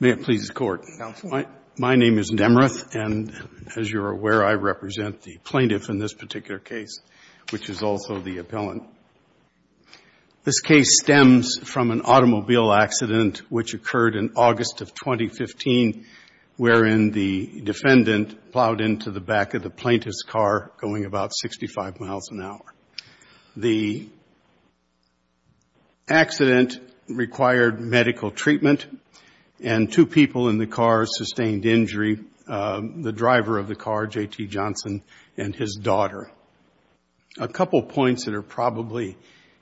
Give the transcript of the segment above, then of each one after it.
May it please the Court. My name is Nemrath, and as you are aware, I represent the plaintiff in this particular case, which is also the appellant. Now, this case stems from an automobile accident which occurred in August of 2015, wherein the defendant plowed into the back of the plaintiff's car going about 65 miles an hour. The accident required medical treatment, and two people in the car sustained injury, the driver of the car, J.T. Johnson, and his daughter. A couple points that are probably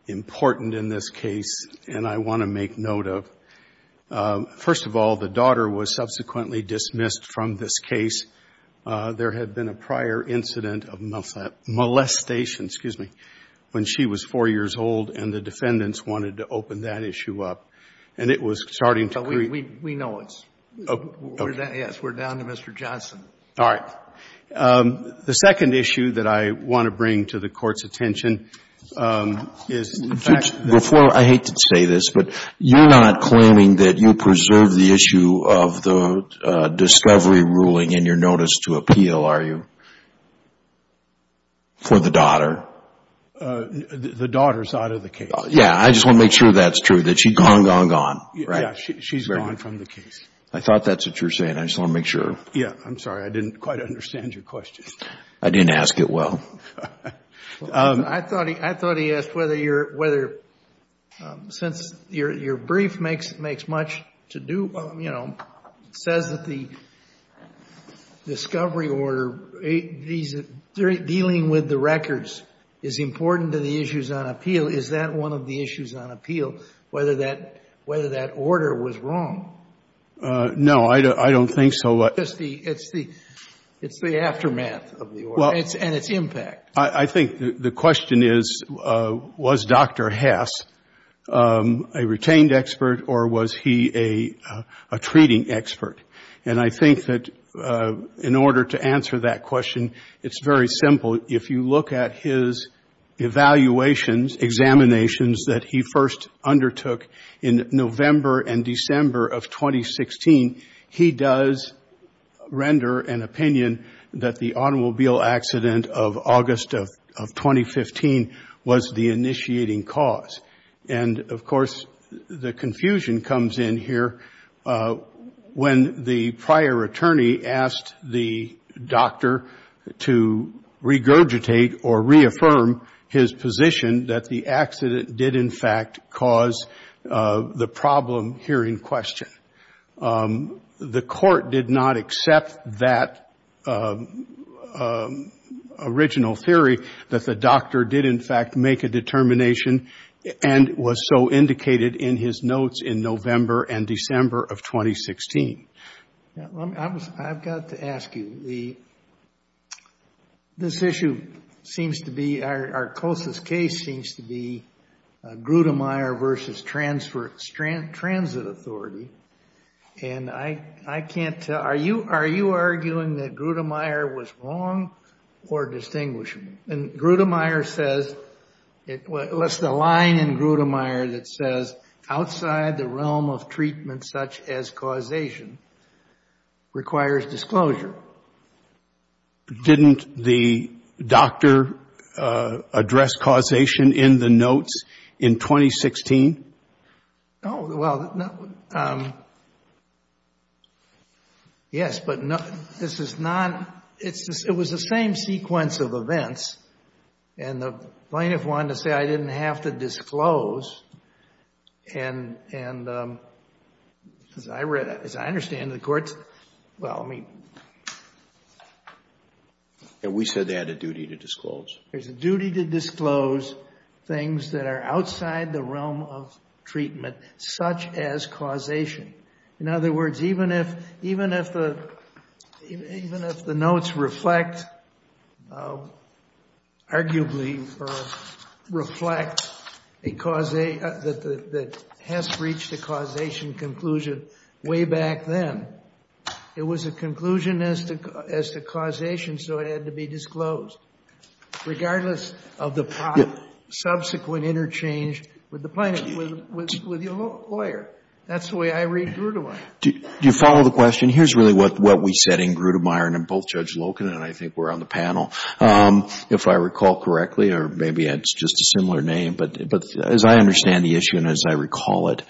important in this case, and I want to make note of. First of all, the daughter was subsequently dismissed from this case. There had been a prior incident of molestation, excuse me, when she was 4 years old, and the defendants wanted to open that issue up. And it was starting to create the issue. We know it's we're down to Mr. Johnson. All right. The second issue that I want to bring to the Court's attention is the fact that the I hate to say this, but you're not claiming that you preserve the issue of the discovery ruling in your notice to appeal, are you, for the daughter? The daughter is out of the case. Yeah. I just want to make sure that's true, that she's gone, gone, gone. Yeah. She's gone from the case. I thought that's what you're saying. I just want to make sure. Yeah. I'm sorry. I didn't quite understand your question. I didn't ask it well. I thought he asked whether your, whether, since your brief makes much to do, you know, says that the discovery order, dealing with the records is important to the issues on appeal, is that one of the issues on appeal, whether that order was wrong? No, I don't think so. It's the aftermath of the order and its impact. I think the question is, was Dr. Hess a retained expert or was he a treating expert? And I think that in order to answer that question, it's very simple. If you look at his evaluations, examinations that he first undertook in November and render an opinion that the automobile accident of August of 2015 was the initiating cause. And of course, the confusion comes in here when the prior attorney asked the doctor to regurgitate or reaffirm his position that the accident did in fact cause the problem here in question. The court did not accept that original theory that the doctor did in fact make a determination and was so indicated in his notes in November and December of 2016. I've got to ask you, this issue seems to be, our closest case seems to be Grudemeyer versus Transit Authority. And I can't tell, are you arguing that Grudemeyer was wrong or distinguishable? And Grudemeyer says, it lists a line in Grudemeyer that says, outside the realm of treatment such as causation requires disclosure. Didn't the doctor address causation in the notes in 2016? Oh, well, yes, but this is not, it was the same sequence of events. And the plaintiff wanted to say, I didn't have to disclose. And as I understand it, the courts, well, I mean. And we said they had a duty to disclose. There's a duty to disclose things that are outside the realm of treatment, such as causation. In other words, even if the notes reflect, arguably reflect a causation that has reached a causation conclusion way back then, it was a conclusion as to causation, so it had to be disclosed, regardless of the subsequent interchange with the lawyer. That's the way I read Grudemeyer. Do you follow the question? Here's really what we said in Grudemeyer, and both Judge Loken and I think we're on the panel. If I recall correctly, or maybe it's just a similar name, but as I understand the issue, and as I recall it,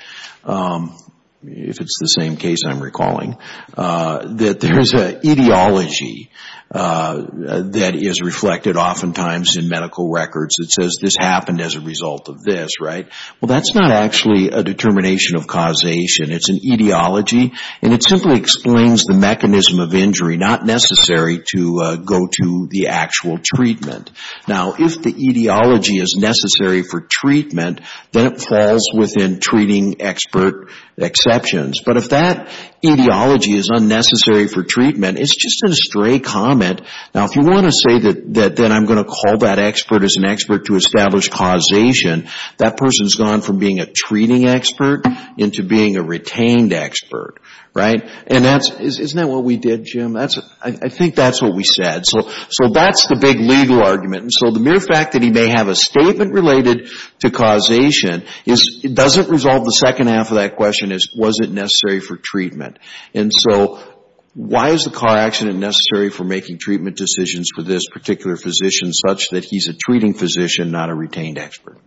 if it's the same case I'm recalling, that there is an ideology that is reflected oftentimes in medical records that says, this happened as a result of this, right? Well, that's not actually a determination of causation. It's an ideology, and it simply explains the mechanism of injury, not necessary to go to the actual treatment. Now, if the ideology is necessary for treatment, then it falls within treating expert exceptions. But if that ideology is unnecessary for treatment, it's just a stray comment. Now, if you want to say that then I'm going to call that expert as an expert to establish causation, that person's gone from being a treating expert into being a retained expert, right? And that's, isn't that what we did, Jim? That's, I think that's what we said. So that's the big legal argument. And so the mere fact that he may have a statement related to causation is, it doesn't resolve the second half of that question is, was it necessary for treatment? And so why is the car accident necessary for making treatment decisions for this particular physician such that he's a treating physician, not a retained expert?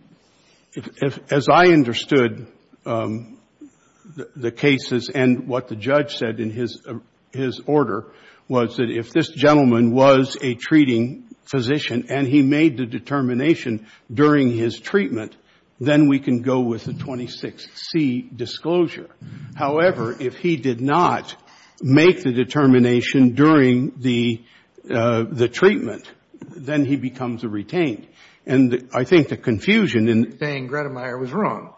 If, as I understood the cases and what the judge said in his order, was that if this gentleman was a treating physician and he made the determination during his treatment, then we can go with the 26C disclosure. However, if he did not make the determination during the treatment, then he becomes a retained. And I think the confusion in saying Gredemeyer was wrong,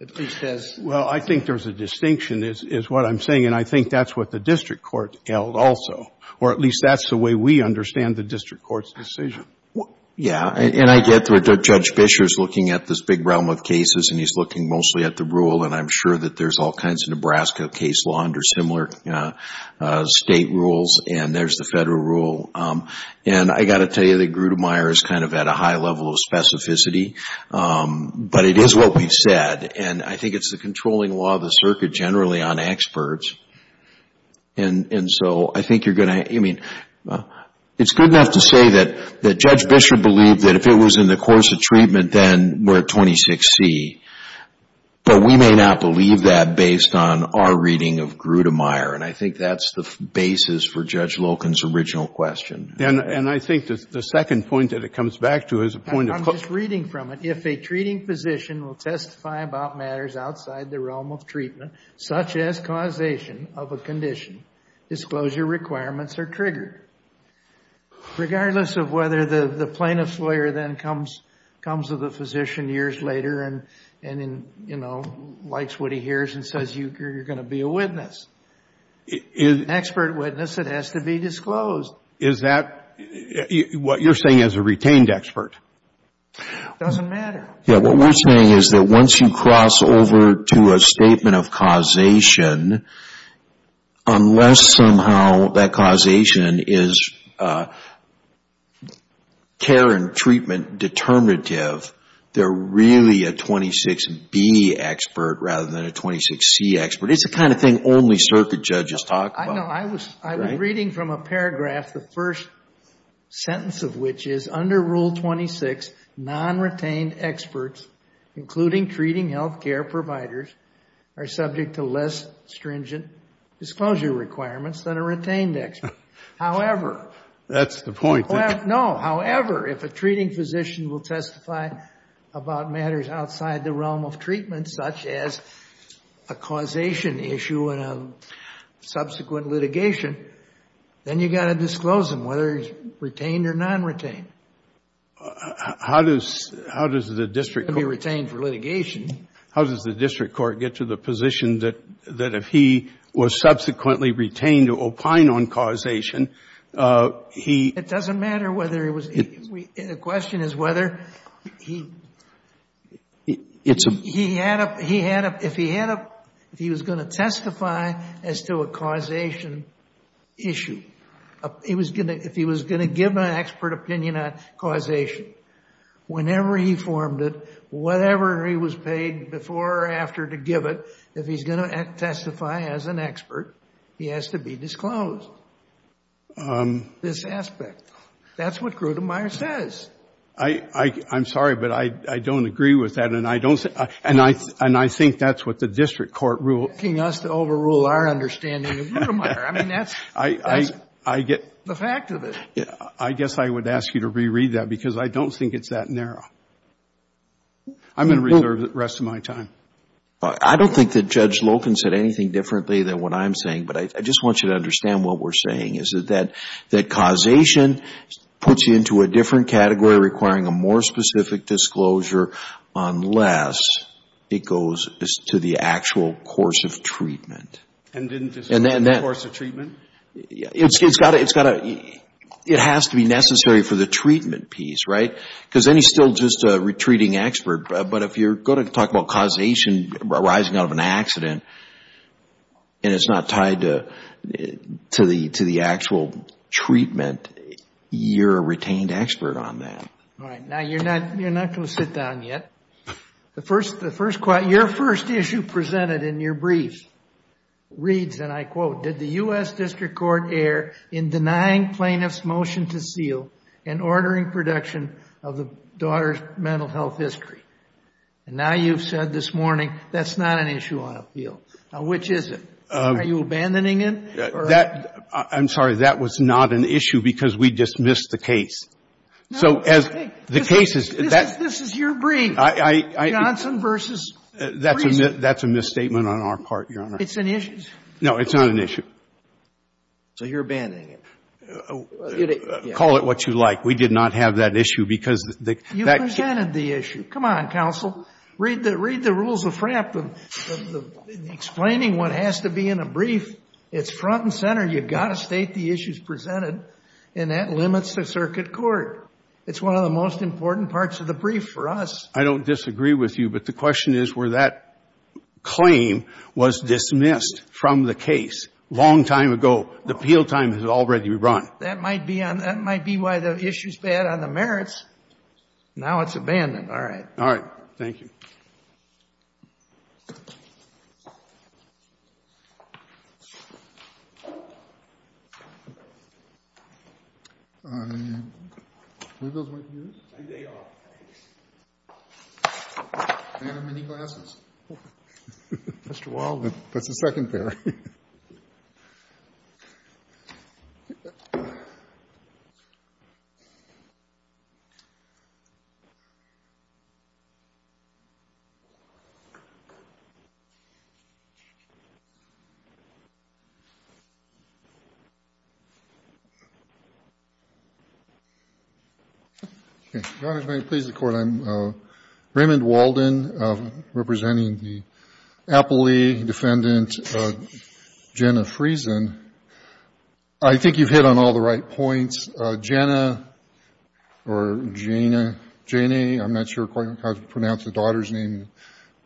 at least as. Well, I think there's a distinction is what I'm saying. And I think that's what the district court held also, or at least that's the way we understand the district court's decision. Yeah. And I get that Judge Fischer's looking at this big realm of cases and he's looking mostly at the rule. And I'm sure that there's all kinds of Nebraska case law under similar state rules and there's the federal rule. And I got to tell you that Gredemeyer is kind of at a high level of specificity, but it is what we've said. And I think it's the controlling law of the circuit generally on experts. And so I think you're going to, I mean, it's good enough to say that Judge Fischer believed that if it was in the course of treatment, then we're at 26C. But we may not believe that based on our reading of Gredemeyer. And I think that's the basis for Judge Loken's original question. And I think the second point that it comes back to is a point of... I'm just reading from it. If a treating physician will testify about matters outside the realm of treatment, such as causation of a condition, disclosure requirements are triggered. Regardless of whether the plaintiff's lawyer then comes to the physician years later and, you know, likes what he hears and says, you're going to be a witness. An expert witness that has to be disclosed. Is that what you're saying as a retained expert? It doesn't matter. Yeah, what we're saying is that once you cross over to a statement of causation, unless somehow that causation is care and treatment determinative, they're really a 26B expert rather than a 26C expert. It's the kind of thing only circuit judges talk about. No, I was reading from a paragraph, the first sentence of which is, under Rule 26, non-retained experts, including treating healthcare providers, are subject to less stringent disclosure requirements than a retained expert. However... That's the point. No, however, if a treating physician will testify about matters outside the realm of treatment, such as a causation issue and a subsequent litigation, then you've got to disclose them, whether it's retained or non-retained. How does the district court... It can be retained for litigation. How does the district court get to the position that if he was subsequently retained to opine on causation, he... It doesn't matter whether it was... The question is whether he... It's a... If he was going to testify as to a causation issue, if he was going to give an expert opinion on causation, whenever he formed it, whatever he was paid before or after to give it, if he's going to testify as an expert, he has to be disclosed. This aspect. That's what Grotemeier says. I'm sorry, but I don't agree with that, and I think that's what the district court rule... You're asking us to overrule our understanding of Grotemeier. I mean, that's... I get... That's the fact of it. I guess I would ask you to reread that, because I don't think it's that narrow. I'm going to reserve the rest of my time. I don't think that Judge Loken said anything differently than what I'm saying, but I just want you to understand what we're saying, is that causation puts you into a different category, requiring a more specific disclosure, unless it goes to the actual course of treatment. And didn't disclose the course of treatment? It's got to... It has to be necessary for the treatment piece, right? Because then he's still just a retreating expert. But if you're going to talk about causation arising out of an accident, and it's not tied to the actual treatment, you're a retained expert on that. All right. Now, you're not going to sit down yet. The first... Your first issue presented in your brief reads, and I quote, did the U.S. district court err in denying plaintiff's motion to seal and ordering production of the daughter's mental health history? And now you've said this morning, that's not an issue on appeal. Which is it? Are you abandoning it? I'm sorry. That was not an issue because we dismissed the case. So, as the case is... This is your brief. Johnson versus... That's a misstatement on our part, Your Honor. It's an issue? No, it's not an issue. So, you're abandoning it? Call it what you like. We did not have that issue because... You presented the issue. Come on, counsel. Read the rules of FRAP. Explaining what has to be in a brief, it's front and center. You've got to state the issues presented, and that limits the circuit court. It's one of the most important parts of the brief for us. I don't disagree with you, but the question is where that claim was dismissed from the case a long time ago. The appeal time has already been brought. That might be why the issue's bad on the merits. Now it's abandoned. All right. All right. Thank you. I... Who goes with you? I do. Do you have any glasses? Mr. Waldman. That's a secondary. Okay. Your Honor, if I could please the Court, I'm Raymond Walden, representing the Appley defendant, Jenna Friesen. I think you've hit on all the right points. Jenna or Jena, I'm not sure quite how to pronounce the daughter's name,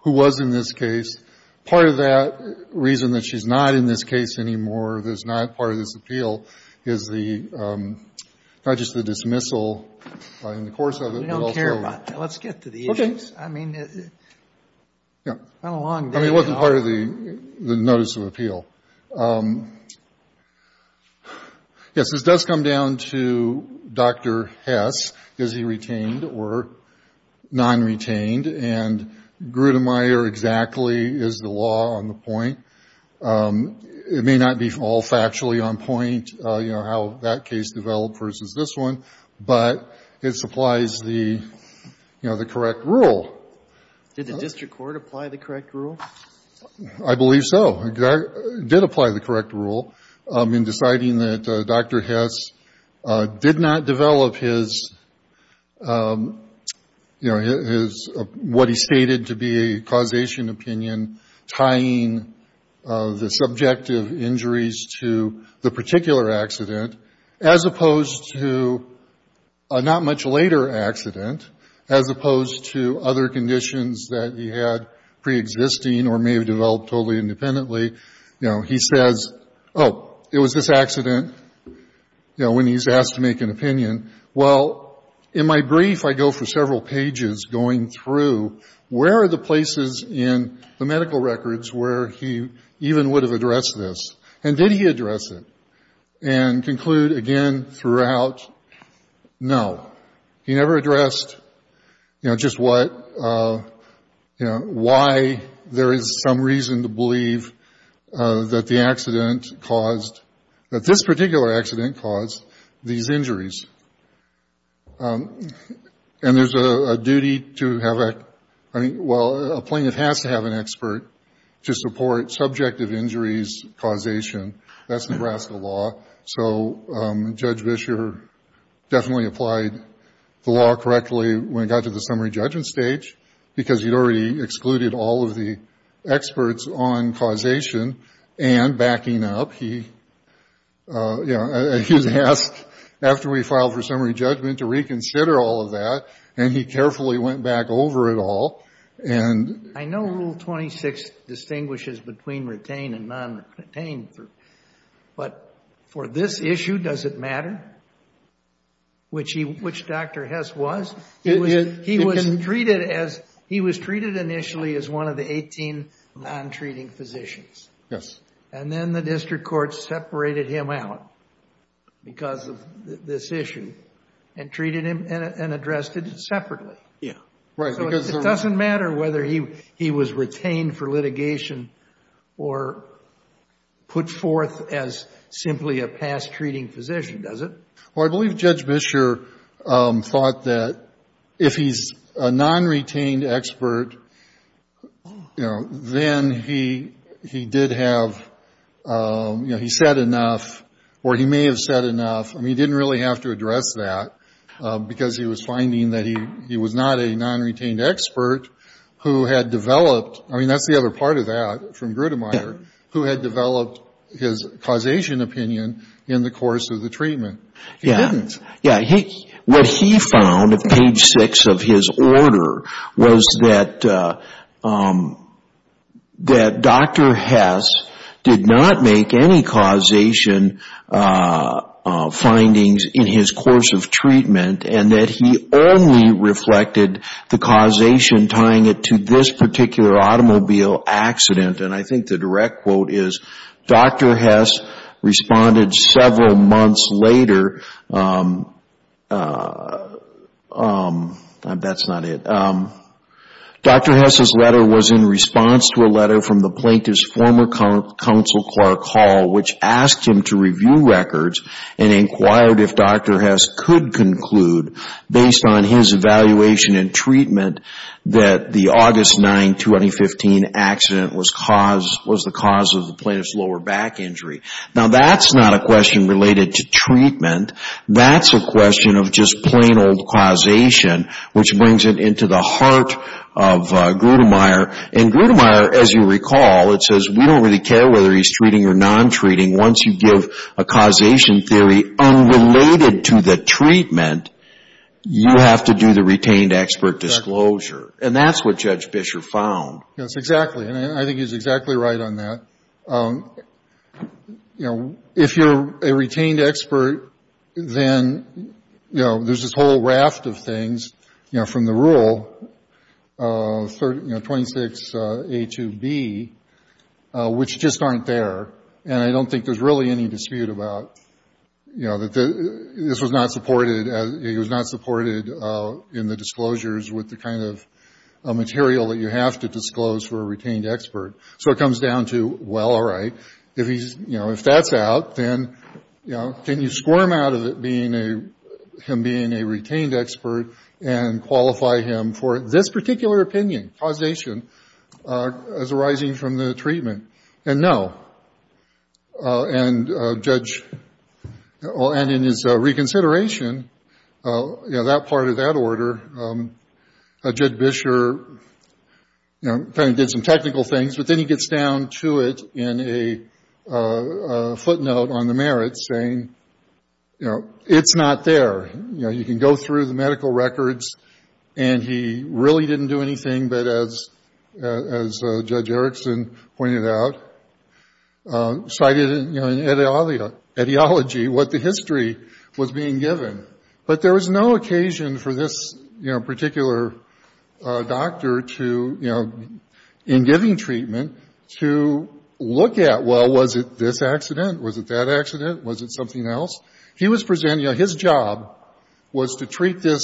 who was in this case. Part of that reason that she's not in this case anymore, that's not part of this appeal, is not just the dismissal in the course of it, but also... We don't care about that. Let's get to the issues. Okay. I mean... Yeah. It wasn't part of the notice of appeal. Yes. This does come down to Dr. Hess. Is he retained or non-retained? And Grudenmayer exactly is the law on the point. It may not be all factually on point, you know, how that case developed versus this one, but it supplies the, you know, the correct rule. Did the district court apply the correct rule? I believe so. It did apply the correct rule in deciding that Dr. Hess did not develop his... what he stated to be a causation opinion tying the subjective injuries to the particular accident as opposed to a not-much-later accident, as opposed to other conditions that he had pre-existing or may have developed totally independently. You know, he says, oh, it was this accident, you know, when he's asked to make an opinion. Well, in my brief, I go for several pages going through where are the places in the medical records where he even would have addressed this? And did he address it? And conclude again throughout, no. He never addressed, you know, just what... you know, why there is some reason to believe that the accident caused... that this particular accident caused these injuries. And there's a duty to have a... I mean, well, a plaintiff has to have an expert to support subjective injuries causation. That's Nebraska law. So Judge Bisher definitely applied the law correctly when it got to the summary judgment stage because he'd already excluded all of the experts on causation and backing up. He, you know, he was asked after we filed for summary judgment to reconsider all of that. And he carefully went back over it all. And... I know Rule 26 distinguishes between retained and non-retained. But for this issue, does it matter? Which he... which Dr. Hess was? He was treated as... He was treated initially as one of the 18 non-treating physicians. Yes. And then the district court separated him out because of this issue and treated him and addressed it separately. Yeah. Right. So it doesn't matter whether he was retained for litigation or put forth as simply a past treating physician, does it? Well, I believe Judge Bisher thought that if he's a non-retained expert, you know, then he... he did have... you know, he said enough or he may have said enough. I mean, he didn't really have to address that because he was finding that he... he was not a non-retained expert who had developed... I mean, that's the other part of that from Grudemeyer... Yeah. ...who had developed his causation opinion in the course of the treatment. Yeah. Yeah. What he found at page six of his order was that... that Dr. Hess did not make any causation findings in his course of treatment and that he only reflected the causation tying it to this particular automobile accident. And I think the direct quote is Dr. Hess responded several months later um... um... that's not it. Dr. Hess's letter was in response to a letter from the plaintiff's former counsel, Clark Hall, which asked him to review records and inquired if Dr. Hess could conclude based on his evaluation and treatment that the August 9, 2015 accident was cause... was the cause of the plaintiff's lower back injury. Now, that's not a question related to treatment. That's a question of just plain old causation which brings it into the heart of Grudemeyer. And Grudemeyer, as you recall, it says we don't really care whether he's treating or non-treating once you give a causation theory unrelated to the treatment you have to do the retained expert disclosure. And that's what Judge Bisher found. Yes, exactly. And I think he's exactly right on that. You know, if you're a retained expert, then, you know, there's this whole raft of things, you know, from the rule 26A to B which just aren't there. And I don't think there's really any dispute about, you know, that this was not supported as... it was not supported in the disclosures with the kind of material that you have to disclose for a retained expert. So it comes down to, well, all right, if he's, you know, if that's out, then, you know, can you squirm out of it being a... him being a retained expert and qualify him for this particular opinion, causation, as arising from the treatment? And no. And Judge... and in his reconsideration, you know, that part of that order, Judge Bisher, you know, kind of did some technical things, but then he gets down to it in a footnote on the merits, saying, you know, it's not there. You know, you can go through the medical records and he really didn't do anything, but as Judge Erickson pointed out, cited, you know, in etiology, was being given. But there was no occasion for this, you know, particular doctor to, you know, in giving treatment to limit the amount of information you can look at. Well, was it this accident? Was it that accident? Was it something else? He was presenting, you know, his job was to treat this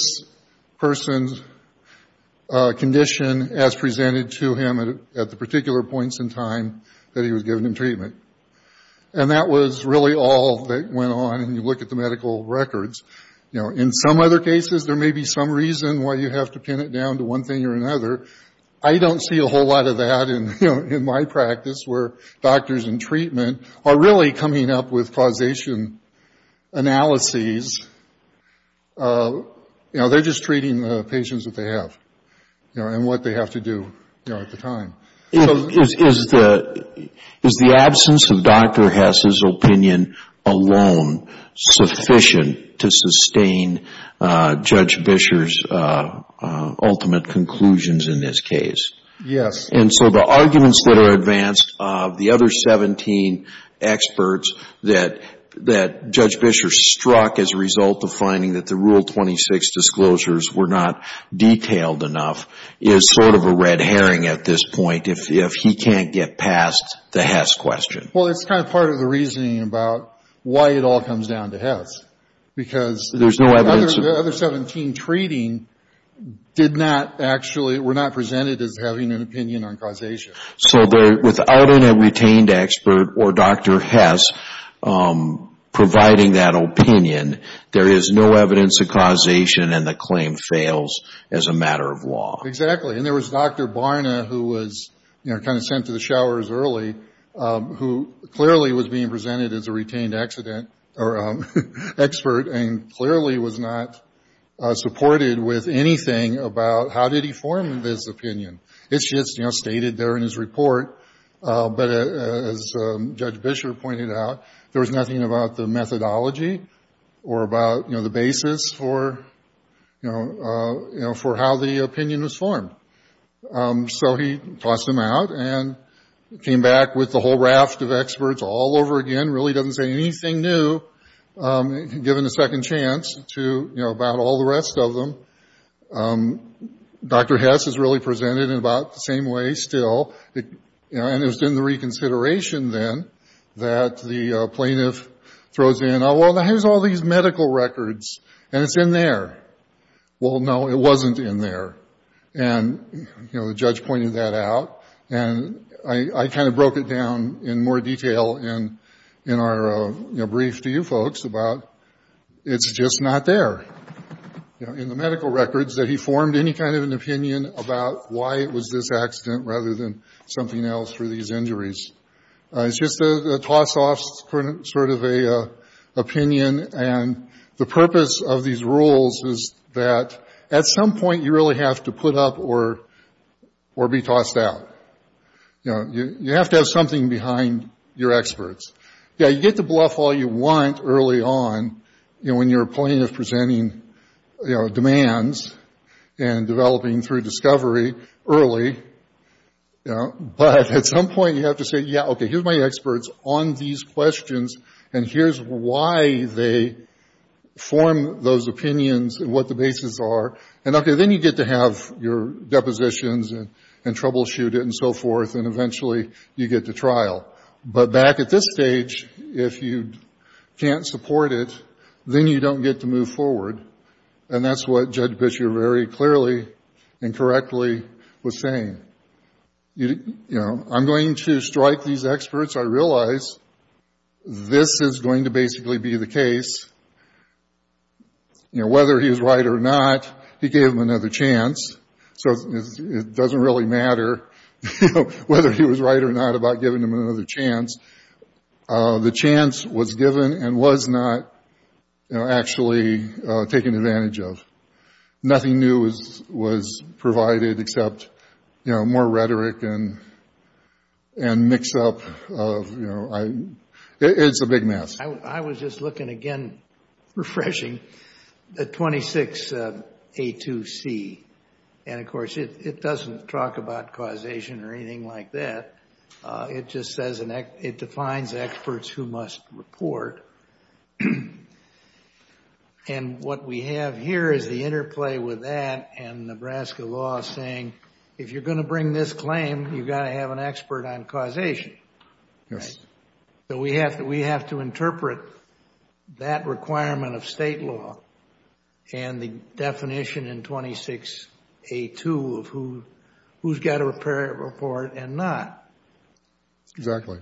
person's condition as presented to him at the particular points in time that he was giving him treatment. And that was really all that went on when you look at the medical records. You know, in some other cases, there may be some reason why you have to pin it down to one thing or another. I don't see a whole lot of that in, you know, in my practice where doctors in treatment are really coming up with causation analyses. You know, they're just treating the patients that they have, you know, and what they have to do, you know, at the time. So, is the absence of Dr. Hess's opinion alone sufficient to sustain Judge Bisher's ultimate conclusion in this case? Yes. And so, the arguments that are advanced of the other 17 experts that Judge Bisher struck as a result of finding that the Rule 26 disclosures were not detailed enough is sort of a red herring at this point if he can't get past the Hess question. Well, it's kind of part of the reasoning about why it all comes down to Hess because the other 17 treating did not were not presented as having an opinion on causation. So, without a retained expert or Dr. Hess providing that opinion, there is no and the claim fails as a matter of law. Exactly. And there was Dr. Barna who was, you know, kind of sent to the showers early who clearly was being presented as a retained expert and clearly was not supported with anything about how did he form this opinion. It's just, you know, stated there in his report but as Judge Bisher pointed out there was nothing about the methodology or about the basis for, you know, for how the opinion was formed. So, he tossed him out and came back with the whole raft of experts all over again really didn't say anything new given a second chance to, you know, about all the rest of them. Dr. Hess is really presented in about the same way still and it was in the reconsideration then that the plaintiff throws in, well, how's all these medical records and it's in there? Well, no, it wasn't in there and, you know, the judge pointed that out and I kind of broke it down in more detail in our brief to you folks about it's just not there in the medical reconsideration and the purpose of these rules is that at some point you really have to put up or be tossed out. You know, you have to have something behind your experts. Yeah, you get to bluff all you want early on when you're plaintiff presenting demands and developing through discovery early on. You know, but at some point you have to say, yeah, okay, here's my on these questions and here's why they form those opinions and what the bases are and, okay, then you get to have your depositions and troubleshoot and so forth and eventually you get to trial. But back at this stage, if you can't support it, then you don't get to move forward and that's what Judge Pitcher very clearly and correctly was saying. You know, I'm going to strike these experts. I realize this is going to basically be the case. You know, whether he was right or not, he gave him another chance, so it doesn't really matter whether he was right or not about giving him another chance. The chance was given and was not actually taken advantage of. Nothing new was provided except more and mix up. It's a big mess. I was just looking again, refreshing, the 26 A2C and of course, it doesn't talk about causation or anything like that. It just defines experts who must report. What we have here is the interplay with that and Nebraska law saying if you're going to bring this claim, you've got to have an expert on causation. We have to interpret that requirement of state law and the definition in 26 A2 of who's got to report and not. Exactly.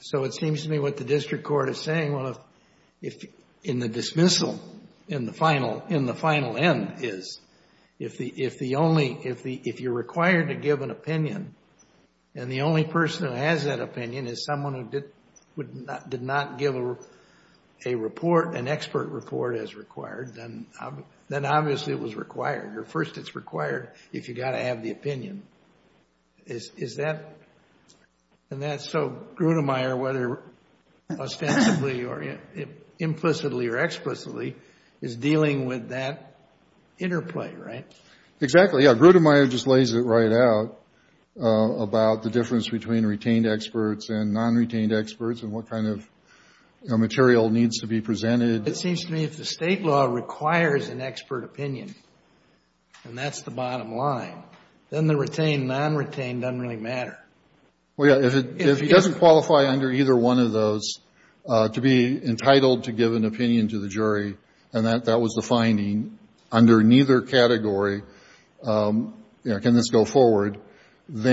So it seems to me what the district court is saying, in the dismissal, in the final end is, if you're required to give an opinion and the only person who has that opinion is someone who did not give a report, an expert report as required, then obviously it was required or first it's required if you've got to have the opinion. And that's so Grudenmeier whether ostensibly or implicitly or explicitly is dealing with that interplay, right? Exactly. Grudenmeier just lays it right out about the difference between retained experts and non-retained experts and what kind of material needs to be obtained. And that's the bottom line. Then the retained and non-retained doesn't really matter. Well, yeah, if he doesn't qualify under either one of those to be entitled to give an opinion to the jury and that was the finding under neither category can this go on. you're going to give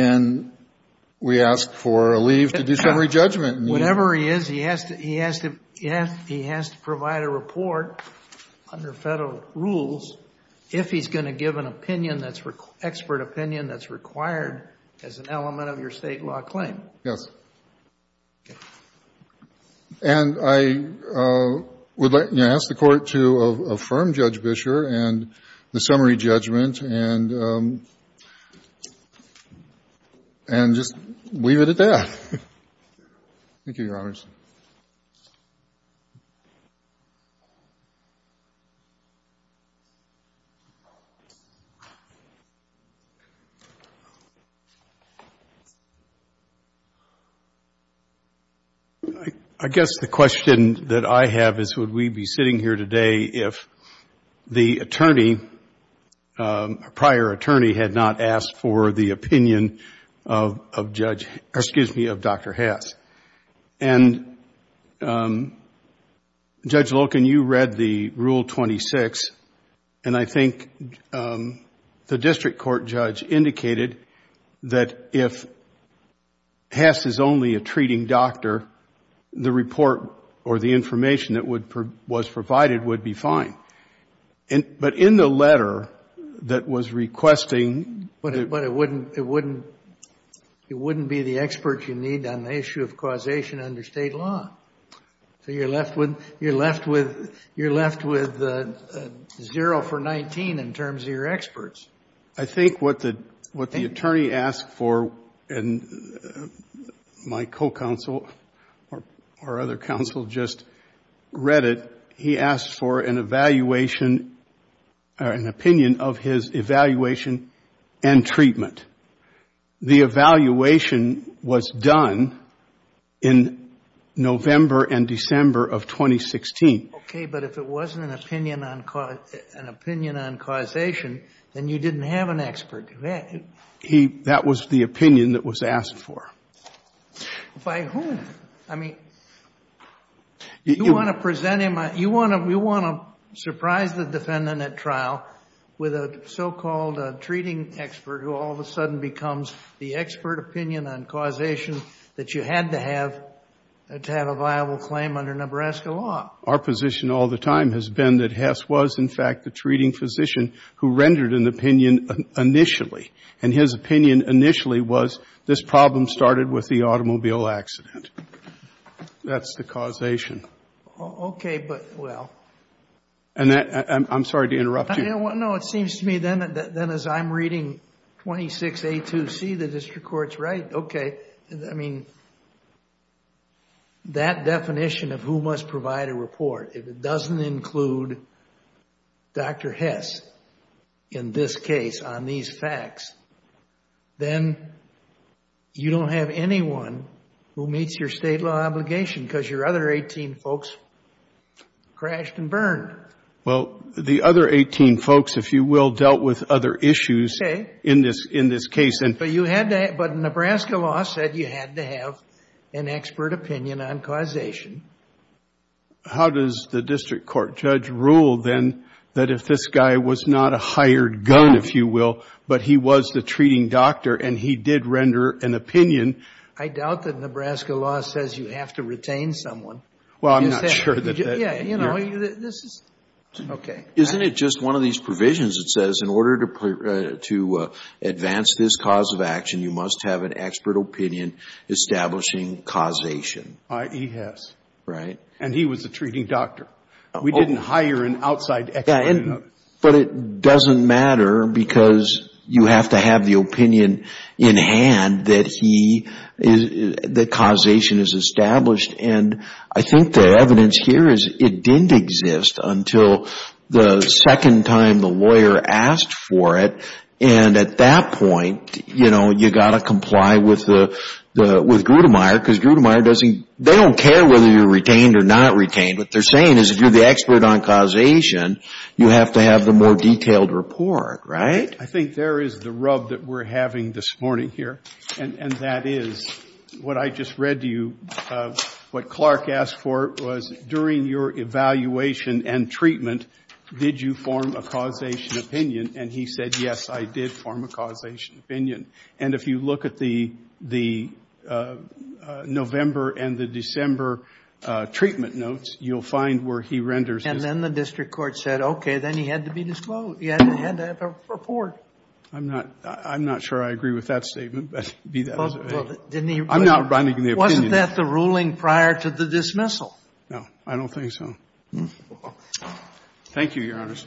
an that's required as an element of your state law claim. Yes. And I would like to ask the court to affirm Judge Bisher and the jury to affirm opinion to the jury and that the jury is entitled to affirm that the jury is entitled to give an opinion that the district court judge indicated that if Hess is only a treating doctor the report that was provided would be fine. But in the letter that was requesting It wouldn't be the expert you need on the issue of causation under state law. So you're left with zero for 19 in terms of your experts. I think what the attorney asked for and my co-counsel or other counsel just read it he asked for an evaluation or an opinion of his evaluation and treatment. The evaluation was done in November and December of 2016. Okay but if it wasn't an opinion on causation then you expert. That was the opinion that was asked for. By whom? I mean you want to present him you want to surprise the defendant with a so-called treating expert who all of a sudden becomes the expert opinion on causation that you had to have to have a viable claim under Nebraska law. Our position all the time has been that Hess was in fact the treating physician who rendered an opinion initially and his opinion initially was this problem started with the automobile accident. That's the causation. Okay but well. I'm sorry to interrupt you. No it seems to me then as I'm 26A2C the district court's right. Okay. I mean that definition of who must provide a report if it doesn't include Dr. Hess in this case on these facts then you don't have to have an expert opinion on causation. How does the district court judge rule then that if this guy was not a hired gun if you will but he was the treating doctor and he did render an opinion. I doubt that Nebraska law says you have to retain someone. Well I'm not sure that. Isn't it just one of these provisions that says in order to advance this cause of action you must have an expert opinion establishing causation. I.E. Hess. Right. And he was the treating doctor. We didn't hire an outside expert. But it doesn't matter because you have to have the opinion in hand that causation is established. And I think the evidence here is it didn't exist until the second time the lawyer asked for it. And at that point you've got to comply with Grudemeyer because they don't care whether you're retained or not retained. What they're saying is if you're the expert on causation you have to more detailed report. Right? I.E. Hess. I think there is the rub that we're having this morning here and that is what I just read to you, what Clark asked for was during your evaluation and treatment did you form a causation statement that you had to have a report. I'm not sure I agree with that statement. I'm not running the opinion. Wasn't that the ruling prior to the dismissal? No, I don't think so. Thank you, Your Honors.